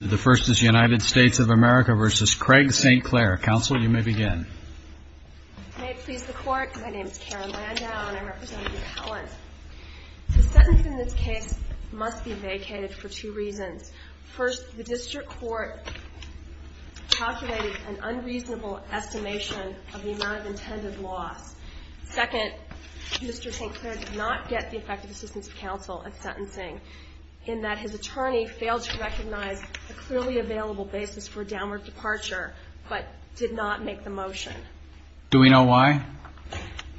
The first is United States of America v. Craig St. Clair. Counsel, you may begin. May it please the Court, my name is Karen Landau and I represent repellent. The sentence in this case must be vacated for two reasons. First, the district court calculated an unreasonable estimation of the amount of intended loss. Second, Mr. St. Clair did not get the effective assistance of counsel at sentencing in that his attorney failed to recognize a clearly available basis for a downward departure, but did not make the motion. Do we know why?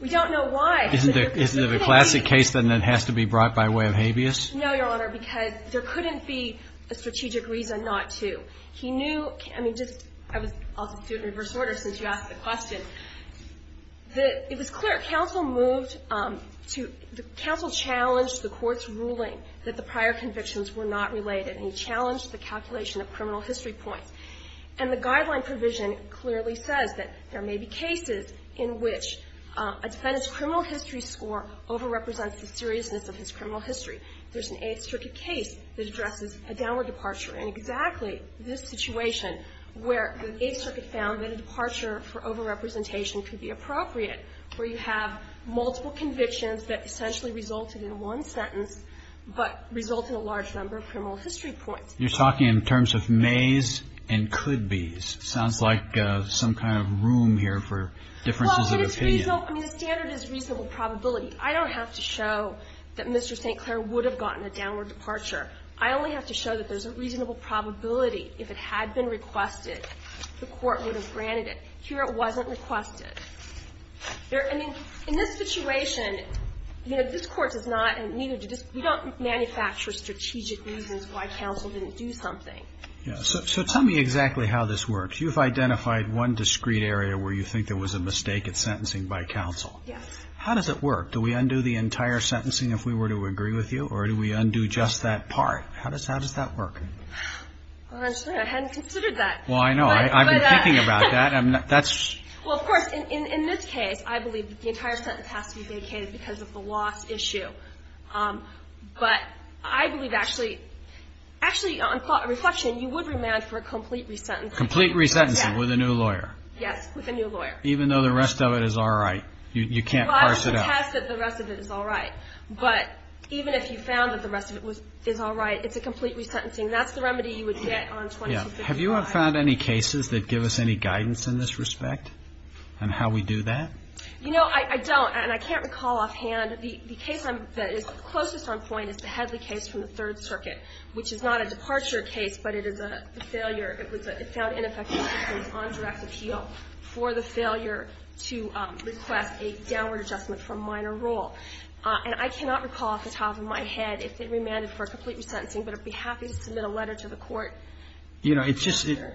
We don't know why. Isn't it a classic case that it has to be brought by way of habeas? No, Your Honor, because there couldn't be a strategic reason not to. He knew, I mean, I'll just do it in reverse order since you asked the question. It was clear counsel moved to – counsel challenged the Court's ruling that the prior convictions were not related, and he challenged the calculation of criminal history points. And the guideline provision clearly says that there may be cases in which a defendant's criminal history score overrepresents the seriousness of his criminal history. There's an Eighth Circuit case that addresses a downward departure in exactly this situation where the Eighth Circuit found that a departure for overrepresentation could be appropriate, where you have multiple convictions that essentially resulted in one sentence, but resulted in a large number of criminal history points. You're talking in terms of mays and could-bes. Sounds like some kind of room here for differences of opinion. Well, I mean, the standard is reasonable probability. I don't have to show that Mr. St. Clair would have gotten a downward departure. I only have to show that there's a reasonable probability, if it had been requested, the Court would have granted it. Here it wasn't requested. There – I mean, in this situation, you know, this Court does not need to – we don't manufacture strategic reasons why counsel didn't do something. Yes. So tell me exactly how this works. You've identified one discrete area where you think there was a mistake at sentencing by counsel. Yes. How does it work? Do we undo the entire sentencing if we were to agree with you, or do we undo just that part? How does that work? I hadn't considered that. Well, I know. I've been thinking about that. That's – Well, of course, in this case, I believe the entire sentence has to be vacated because of the loss issue. But I believe actually – actually, on reflection, you would remand for a complete resentencing. Complete resentencing with a new lawyer. Yes, with a new lawyer. Even though the rest of it is all right. You can't parse it out. You can't pass that the rest of it is all right. But even if you found that the rest of it was – is all right, it's a complete resentencing. That's the remedy you would get on 2253. Have you found any cases that give us any guidance in this respect on how we do that? You know, I don't. And I can't recall offhand. The case that is closest on point is the Headley case from the Third Circuit, which is not a departure case, but it is a failure. It was a – it found ineffective because it was on direct appeal for the failure to request a downward adjustment for a minor role. And I cannot recall off the top of my head if they remanded for a complete resentencing, but I'd be happy to submit a letter to the Court. You know, it just –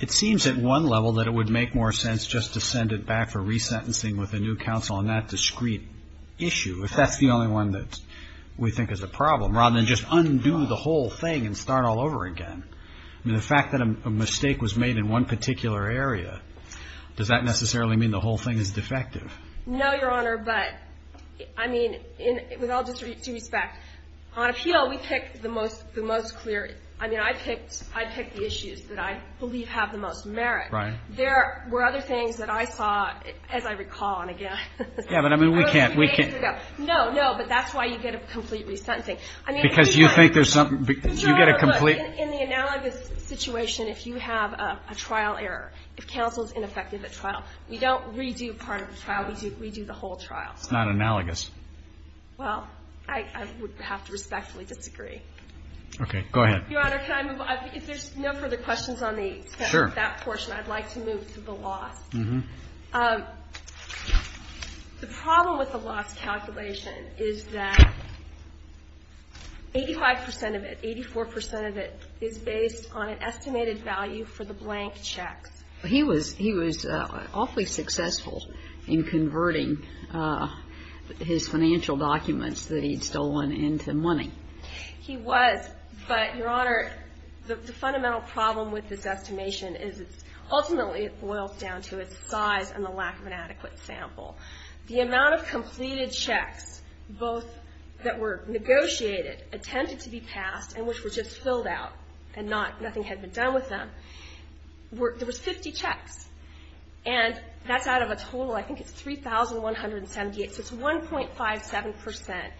it seems at one level that it would make more sense just to send it back for resentencing with a new counsel on that discrete issue, if that's the only one that we think is a problem, rather than just undo the whole thing and start all over again. I mean, the fact that a mistake was made in one particular area, does that necessarily mean the whole thing is defective? No, Your Honor. But, I mean, with all due respect, on appeal, we picked the most clear – I mean, I picked the issues that I believe have the most merit. Right. There were other things that I saw, as I recall, and again – Yeah, but I mean, we can't – we can't – No, no. But that's why you get a complete resentencing. I mean, if you have – Because you think there's something – you get a complete – No, no, no. In the analogous situation, if you have a trial error, if counsel's ineffective at trial, we don't redo part of the trial. We do the whole trial. It's not analogous. Well, I would have to respectfully disagree. Okay. Go ahead. Your Honor, can I move on? If there's no further questions on that portion, I'd like to move to the loss. Mm-hmm. The problem with the loss calculation is that 85 percent of it, 84 percent of it, is based on an estimated value for the blank checks. He was awfully successful in converting his financial documents that he'd stolen into money. He was. But, Your Honor, the fundamental problem with this estimation is it's – ultimately, it boils down to its size and the lack of an adequate sample. The amount of completed checks, both that were negotiated, attempted to be passed, and which were just filled out and nothing had been done with them, there was 50 checks. And that's out of a total, I think it's 3,178. So it's 1.57 percent.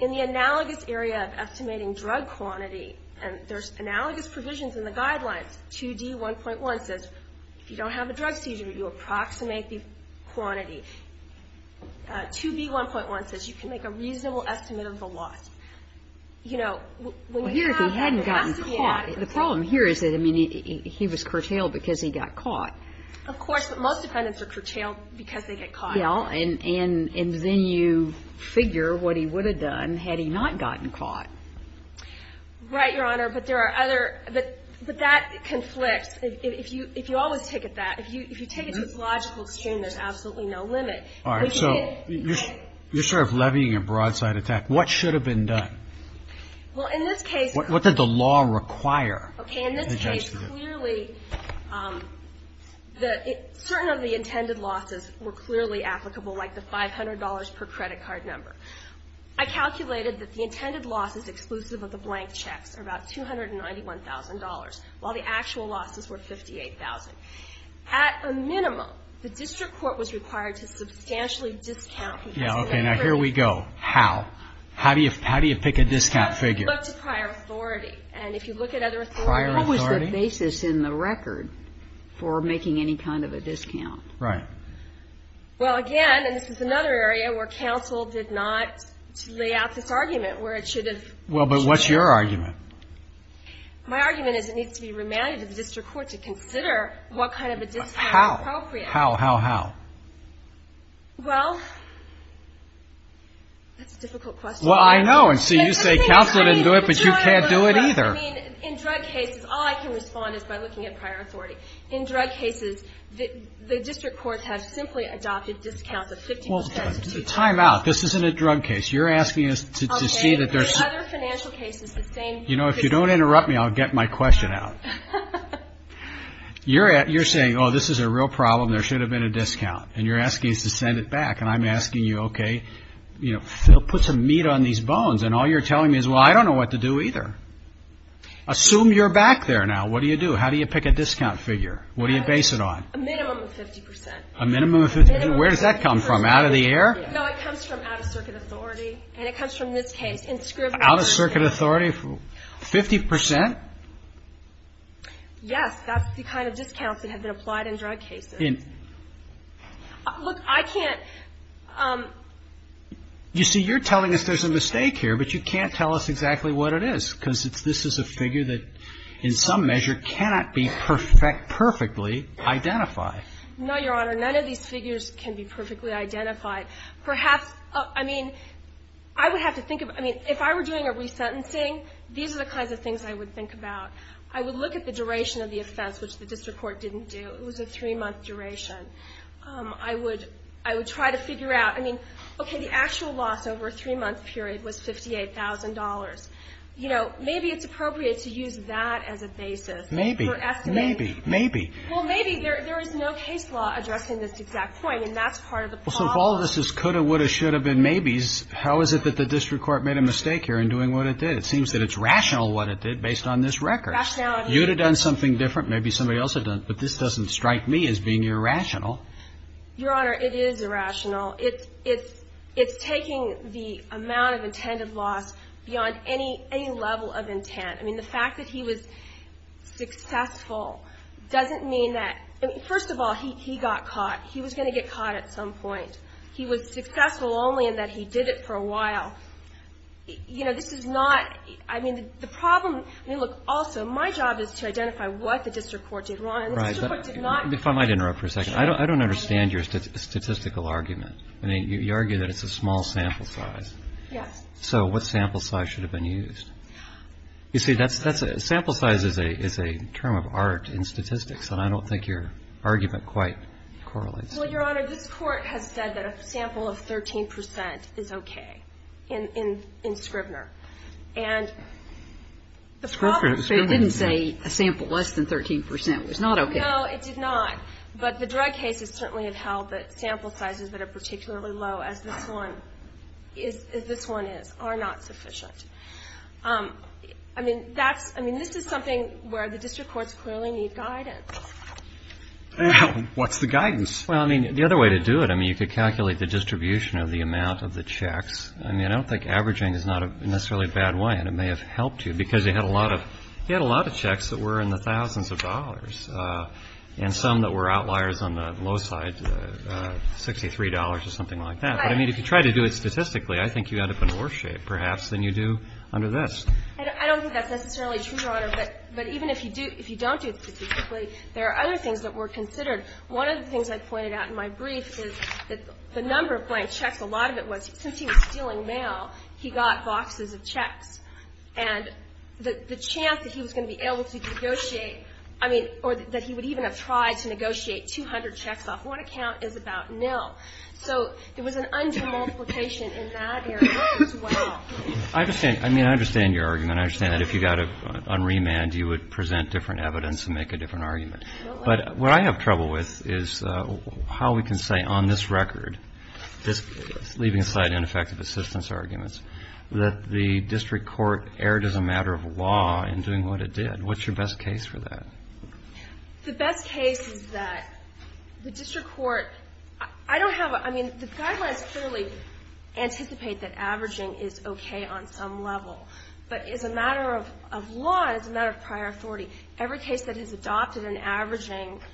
In the analogous area of estimating drug quantity, and there's analogous provisions in the guidelines, 2D1.1 says if you don't have a drug seizure, you approximate the quantity. 2B1.1 says you can make a reasonable estimate of the loss. You know, when you have an estimate. Well, here if he hadn't gotten caught, the problem here is that, I mean, he was curtailed because he got caught. Of course. But most defendants are curtailed because they get caught. Yeah. And then you figure what he would have done had he not gotten caught. Right, Your Honor. But there are other – but that conflicts. If you always take it that – if you take it to its logical extreme, there's absolutely no limit. All right. So you're sort of levying a broadside attack. What should have been done? Well, in this case – What did the law require the judge to do? Okay. In this case, clearly the – certain of the intended losses were clearly applicable, like the $500 per credit card number. I calculated that the intended losses exclusive of the blank checks are about $291,000, while the actual losses were $58,000. At a minimum, the district court was required to substantially discount – Yeah. Okay. Now, here we go. How? How do you pick a discount figure? Prior authority. And if you look at other authorities – Prior authority? What was the basis in the record for making any kind of a discount? Right. Well, again, and this is another area where counsel did not lay out this argument, where it should have – Well, but what's your argument? My argument is it needs to be remanded to the district court to consider what kind of a discount is appropriate. How? How, how, how? Well, that's a difficult question. Well, I know. And so you say counsel didn't do it, but you can't do it either. I mean, in drug cases, all I can respond is by looking at prior authority. In drug cases, the district courts have simply adopted discounts of 50 percent. Well, time out. This isn't a drug case. You're asking us to see that there's – Okay. In other financial cases, the same – You know, if you don't interrupt me, I'll get my question out. You're saying, oh, this is a real problem. There should have been a discount. And you're asking us to send it back. And I'm asking you, okay, put some meat on these bones. And all you're telling me is, well, I don't know what to do either. Assume you're back there now. What do you do? How do you pick a discount figure? What do you base it on? A minimum of 50 percent. A minimum of 50 percent. Where does that come from, out of the air? No, it comes from out-of-circuit authority. And it comes from this case. Out-of-circuit authority, 50 percent? Yes. That's the kind of discounts that have been applied in drug cases. Look, I can't – You see, you're telling us there's a mistake here, but you can't tell us exactly what it is. Because this is a figure that, in some measure, cannot be perfectly identified. No, Your Honor. None of these figures can be perfectly identified. Perhaps – I mean, I would have to think of – I mean, if I were doing a resentencing, these are the kinds of things I would think about. I would look at the duration of the offense, which the district court didn't do. It was a three-month duration. I would try to figure out – I mean, okay, the actual loss over a three-month period was $58,000. You know, maybe it's appropriate to use that as a basis for estimating. Maybe. Maybe. Maybe. Well, maybe. There is no case law addressing this exact point, and that's part of the problem. Well, so if all of this is coulda, woulda, shoulda, been maybes, how is it that the district court made a mistake here in doing what it did? It seems that it's rational what it did based on this record. Rationality. You would have done something different. Maybe somebody else had done it. But this doesn't strike me as being irrational. Your Honor, it is irrational. It's taking the amount of intended loss beyond any level of intent. I mean, the fact that he was successful doesn't mean that – I mean, first of all, he got caught. He was going to get caught at some point. He was successful only in that he did it for a while. You know, this is not – I mean, the problem – I mean, look, also, my job is to identify what the district court did wrong. And the district court did not – Right. If I might interrupt for a second. I don't understand your statistical argument. I mean, you argue that it's a small sample size. Yes. So what sample size should have been used? You see, that's – sample size is a term of art in statistics, and I don't think your argument quite correlates. Well, Your Honor, this Court has said that a sample of 13 percent is okay in Scrivner. And the problem is – Scrivner? It didn't say a sample less than 13 percent was not okay. No, it did not. But the drug cases certainly have held that sample sizes that are particularly low, as this one is – are not sufficient. I mean, that's – I mean, this is something where the district courts clearly need guidance. What's the guidance? Well, I mean, the other way to do it, I mean, you could calculate the distribution of the amount of the checks. I mean, I don't think averaging is not necessarily a bad way, and it may have helped you, because you had a lot of checks that were in the thousands of dollars and some that were outliers on the low side, $63 or something like that. But, I mean, if you try to do it statistically, I think you end up in worse shape, perhaps, than you do under this. I don't think that's necessarily true, Your Honor. But even if you do – if you don't do it statistically, there are other things that were considered. One of the things I pointed out in my brief is that the number of blank checks, a lot of it was since he was stealing mail, he got boxes of checks. And the chance that he was going to be able to negotiate – I mean, or that he would even have tried to negotiate 200 checks off one account is about nil. So it was an under-multiplication in that area as well. I understand. I mean, I understand your argument. I understand that if you got it on remand, you would present different evidence and make a different argument. But what I have trouble with is how we can say on this record, just leaving aside ineffective assistance arguments, that the district court erred as a matter of law in doing what it did. What's your best case for that? The best case is that the district court – I don't have a – I mean, the guidelines clearly anticipate that averaging is okay on some level. But as a matter of law, as a matter of prior authority, every case that has adopted an averaging –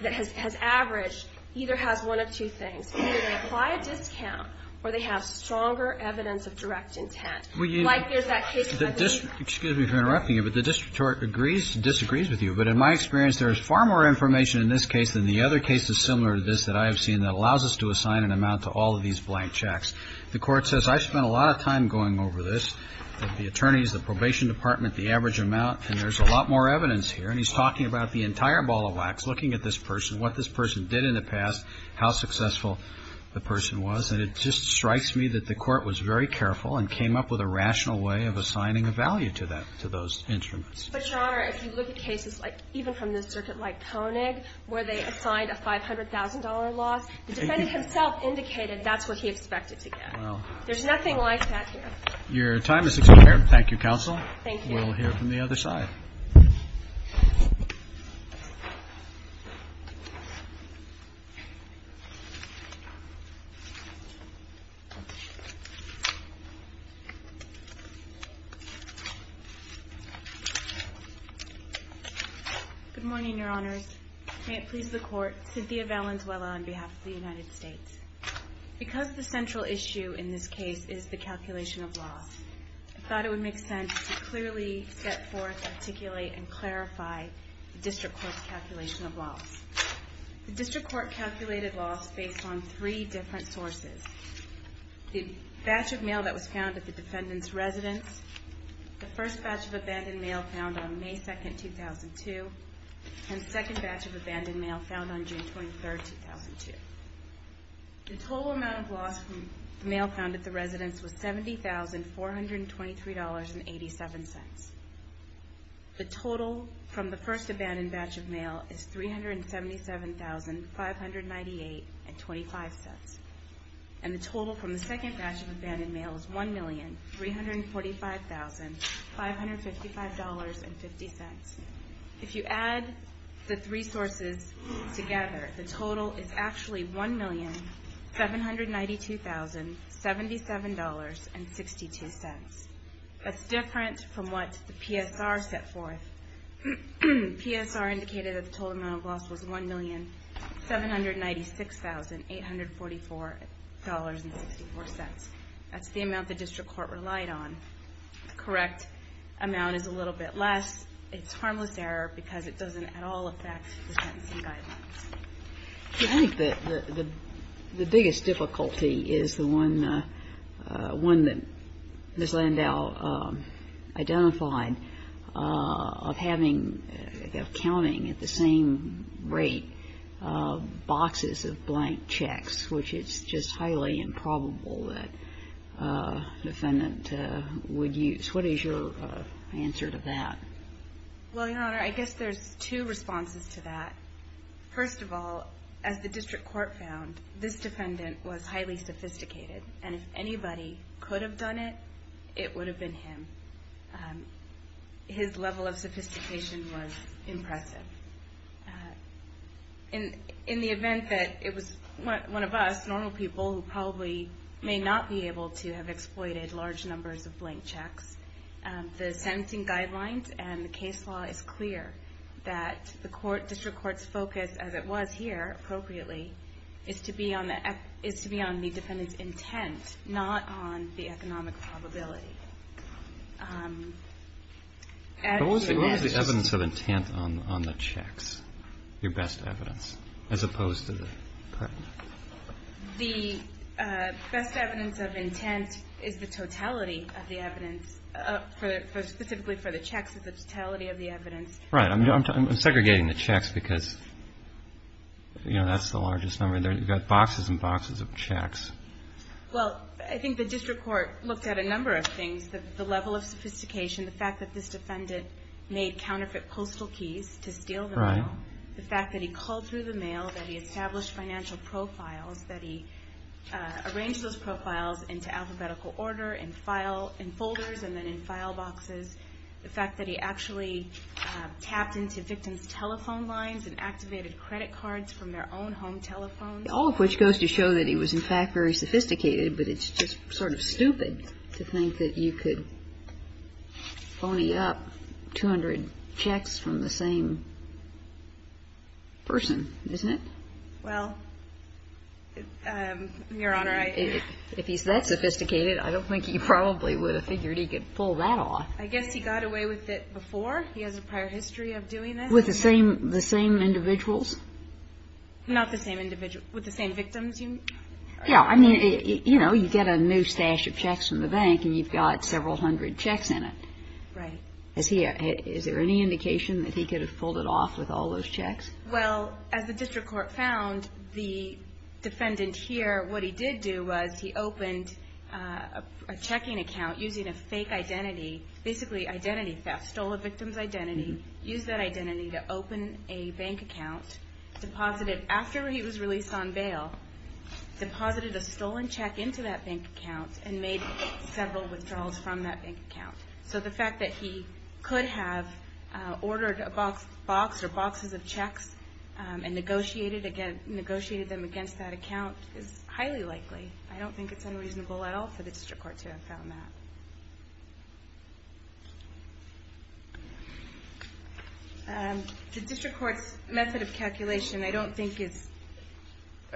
that has averaged either has one of two things. Either they apply a discount or they have stronger evidence of direct intent. Well, you – Like there's that case – Excuse me for interrupting you, but the district court agrees – disagrees with you. But in my experience, there is far more information in this case than the other cases similar to this that I have seen that allows us to assign an amount to all of these blank checks. And there's a lot more evidence here. And he's talking about the entire ball of wax, looking at this person, what this person did in the past, how successful the person was. And it just strikes me that the Court was very careful and came up with a rational way of assigning a value to that – to those instruments. But, Your Honor, if you look at cases like – even from the circuit like Koenig, where they assigned a $500,000 loss, the defendant himself indicated that's what he expected to get. Well. There's nothing like that here. Your time is expired. Thank you, Counsel. Thank you. We'll hear from the other side. Good morning, Your Honors. May it please the Court, Cynthia Valenzuela on behalf of the United States. Because the central issue in this case is the calculation of loss, I thought it would make sense to clearly set forth, articulate, and clarify the District Court's calculation of loss. The District Court calculated loss based on three different sources. The batch of mail that was found at the defendant's residence, the first batch of abandoned mail found on May 2, 2002, and the second batch of abandoned mail found on June 23, 2002. The total amount of loss from the mail found at the residence was $70,423.87. The total from the first abandoned batch of mail is $377,598.25. And the total from the second batch of abandoned mail is $1,345,555.50. If you add the three sources together, the total is actually $1,792,077.62. That's different from what the PSR set forth. PSR indicated that the total amount of loss was $1,796,844.64. That's the amount the District Court relied on. The correct amount is a little bit less. It's harmless error because it doesn't at all affect the dependency guidelines. I think that the biggest difficulty is the one that Ms. Landau identified of having, of counting at the same rate boxes of blank checks, which it's just highly improbable that a defendant would use. What is your answer to that? Well, Your Honor, I guess there's two responses to that. First of all, as the District Court found, this defendant was highly sophisticated, and if anybody could have done it, it would have been him. His level of sophistication was impressive. In the event that it was one of us, normal people, who probably may not be able to have exploited large numbers of blank checks, the sentencing guidelines and the case law is clear that the District Court's focus, as it was here appropriately, is to be on the defendant's intent, not on the economic probability. What was the evidence of intent on the checks, your best evidence, as opposed to the credit? The best evidence of intent is the totality of the evidence, specifically for the checks is the totality of the evidence. Right. I'm segregating the checks because that's the largest number. You've got boxes and boxes of checks. Well, I think the District Court looked at a number of things. The level of sophistication, the fact that this defendant made counterfeit postal keys to steal the mail, the fact that he called through the mail, that he established financial profiles, that he arranged those profiles into alphabetical order in folders and then in file boxes, the fact that he actually tapped into victims' telephone lines and activated credit cards from their own home telephones. All of which goes to show that he was, in fact, very sophisticated, but it's just sort of stupid to think that you could phony up 200 checks from the same person, isn't it? Well, Your Honor, I... If he's that sophisticated, I don't think he probably would have figured he could pull that off. I guess he got away with it before. He has a prior history of doing this. With the same individuals? Not the same individual. With the same victims. Yeah. I mean, you know, you get a new stash of checks from the bank and you've got several hundred checks in it. Right. Is there any indication that he could have pulled it off with all those checks? Well, as the District Court found, the defendant here, what he did do was he opened a checking account using a fake identity, basically identity theft, stole a victim's identity, used that identity to open a bank account, deposited, after he was released on bail, deposited a stolen check into that bank account and made several withdrawals from that bank account. So the fact that he could have ordered a box or boxes of checks and negotiated them against that account is highly likely. I don't think it's unreasonable at all for the District Court to have found that. The District Court's method of calculation I don't think is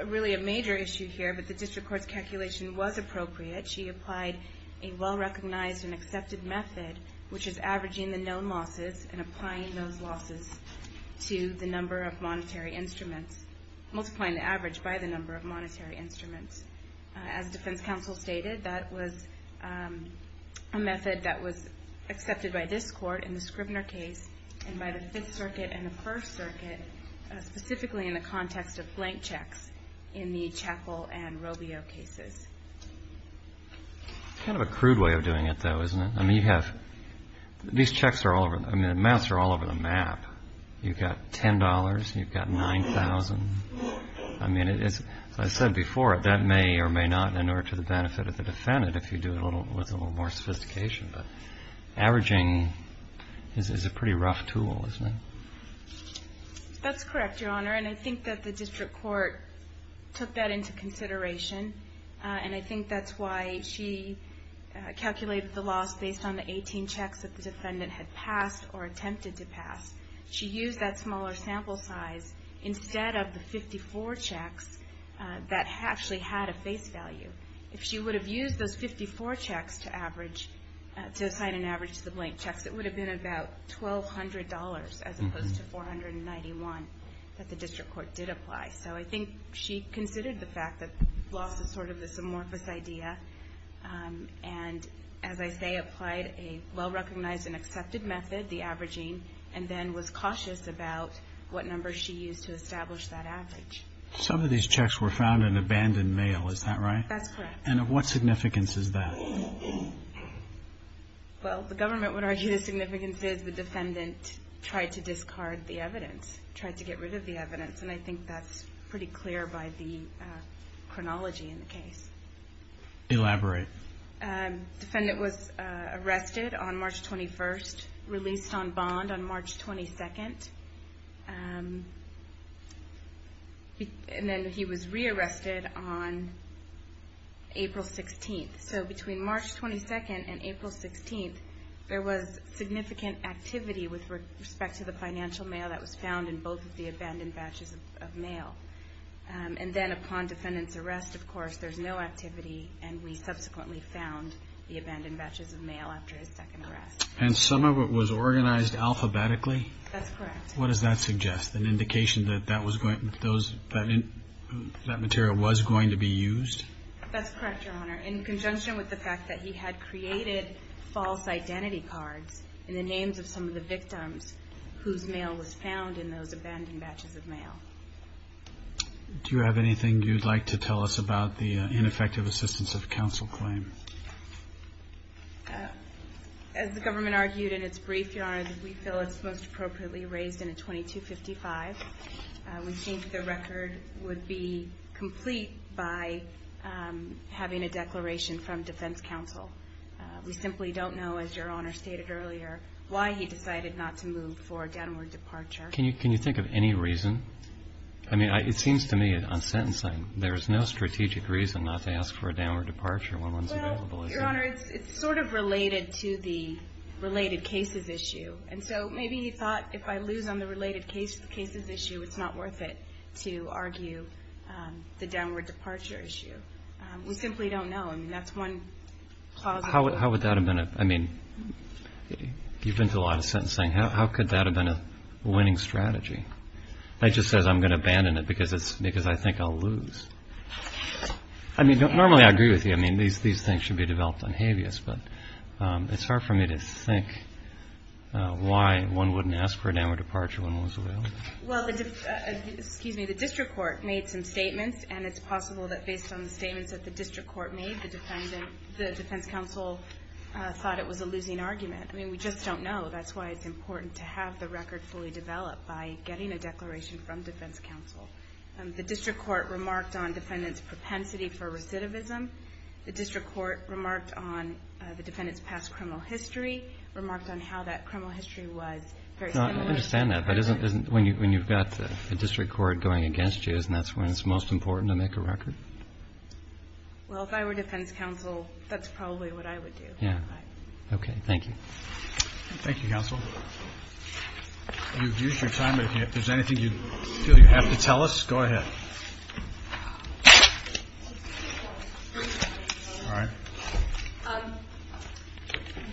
really a major issue here, but the District Court's calculation was appropriate. She applied a well-recognized and accepted method, which is averaging the known losses and applying those losses to the number of monetary instruments, multiplying the average by the number of monetary instruments. As Defense Counsel stated, that was a method that was accepted by this Court in the Scribner case and by the Fifth Circuit and the First Circuit, specifically in the context of blank checks in the Chappell and Robio cases. It's kind of a crude way of doing it, though, isn't it? I mean, you have, these checks are all over, I mean, the amounts are all over the map. You've got $10, you've got $9,000. I mean, as I said before, that may or may not inure to the benefit of the defendant if you do it with a little more sophistication, but averaging is a pretty rough tool, isn't it? That's correct, Your Honor, and I think that the District Court took that into consideration, and I think that's why she calculated the loss based on the 18 checks that the defendant had passed or attempted to pass. She used that smaller sample size instead of the 54 checks that actually had a face value. If she would have used those 54 checks to assign an average to the blank checks, it would have been about $1,200 as opposed to $491 that the District Court did apply. So I think she considered the fact that loss is sort of this amorphous idea and, as I say, applied a well-recognized and accepted method, the averaging, and then was cautious about what number she used to establish that average. Some of these checks were found in abandoned mail, is that right? That's correct. And of what significance is that? Well, the government would argue the significance is the defendant tried to discard the evidence, tried to get rid of the evidence, and I think that's pretty clear by the chronology in the case. Elaborate. The defendant was arrested on March 21st, released on bond on March 22nd, and then he was rearrested on April 16th. So between March 22nd and April 16th, there was significant activity with respect to the financial mail that was found in both of the abandoned batches of mail. And then upon defendant's arrest, of course, there's no activity, and we subsequently found the abandoned batches of mail after his second arrest. And some of it was organized alphabetically? That's correct. What does that suggest, an indication that that material was going to be used? That's correct, Your Honor, in conjunction with the fact that he had created false identity cards in the names of some of the victims whose mail was found in those abandoned batches of mail. Do you have anything you'd like to tell us about the ineffective assistance of counsel claim? As the government argued in its brief, Your Honor, we feel it's most appropriately raised in a 2255. We think the record would be complete by having a declaration from defense counsel. We simply don't know, as Your Honor stated earlier, why he decided not to move for a downward departure. Can you think of any reason? I mean, it seems to me, on sentencing, there's no strategic reason not to ask for a downward departure. Well, Your Honor, it's sort of related to the related cases issue. And so maybe he thought if I lose on the related cases issue, it's not worth it to argue the downward departure issue. We simply don't know. I mean, that's one plausible reason. How would that have been? I mean, you've been through a lot of sentencing. How could that have been a winning strategy? It just says I'm going to abandon it because I think I'll lose. I mean, normally I agree with you. I mean, these things should be developed on habeas. But it's hard for me to think why one wouldn't ask for a downward departure when one was available. Well, the district court made some statements, and it's possible that based on the statements that the district court made, the defense counsel thought it was a losing argument. I mean, we just don't know. That's why it's important to have the record fully developed, by getting a declaration from defense counsel. The district court remarked on defendant's propensity for recidivism. The district court remarked on the defendant's past criminal history, remarked on how that criminal history was very similar. No, I understand that. When you've got the district court going against you, isn't that when it's most important to make a record? Well, if I were defense counsel, that's probably what I would do. Okay, thank you. Thank you, counsel. You've used your time, but if there's anything you feel you have to tell us, go ahead.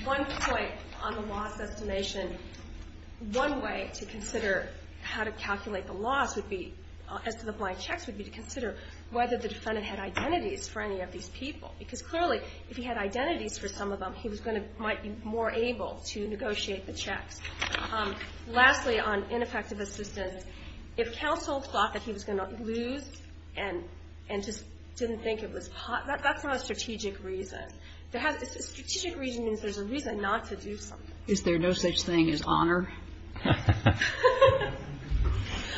One point on the loss estimation. One way to consider how to calculate the loss as to the blank checks would be to consider whether the defendant had identities for any of these people, because clearly if he had identities for some of them, he might be more able to negotiate the checks. Lastly, on ineffective assistance, if counsel thought that he was going to lose and just didn't think it was, that's not a strategic reason. Strategic reason means there's a reason not to do something. Is there no such thing as honor?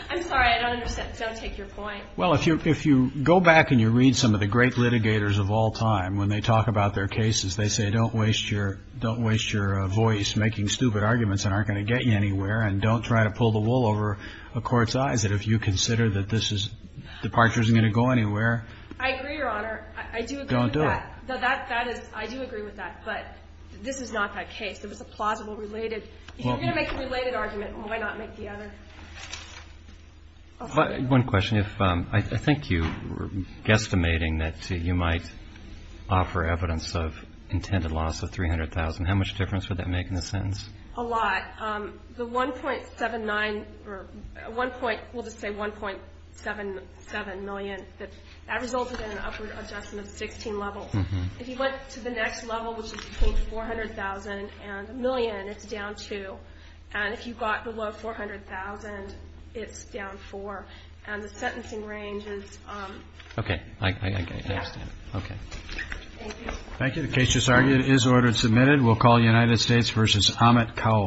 I'm sorry, I don't understand. Don't take your point. Well, if you go back and you read some of the great litigators of all time, when they talk about their cases, they say, don't waste your voice making stupid arguments that aren't going to get you anywhere, and don't try to pull the wool over a court's eyes, that if you consider that this departure isn't going to go anywhere. I agree, Your Honor. I do agree with that. Don't do it. I do agree with that, but this is not that case. It was a plausible related. If you're going to make a related argument, why not make the other? One question. I think you were guesstimating that you might offer evidence of intended loss of $300,000. How much difference would that make in the sentence? A lot. The 1.79 or 1. We'll just say 1.77 million. That resulted in an upward adjustment of 16 levels. If you went to the next level, which is between 400,000 and a million, it's down 2. And if you got below 400,000, it's down 4. And the sentencing range is... Okay. I understand. Okay. Thank you. Thank you. The case just argued is order submitted. We'll call United States v. Amit Kaul.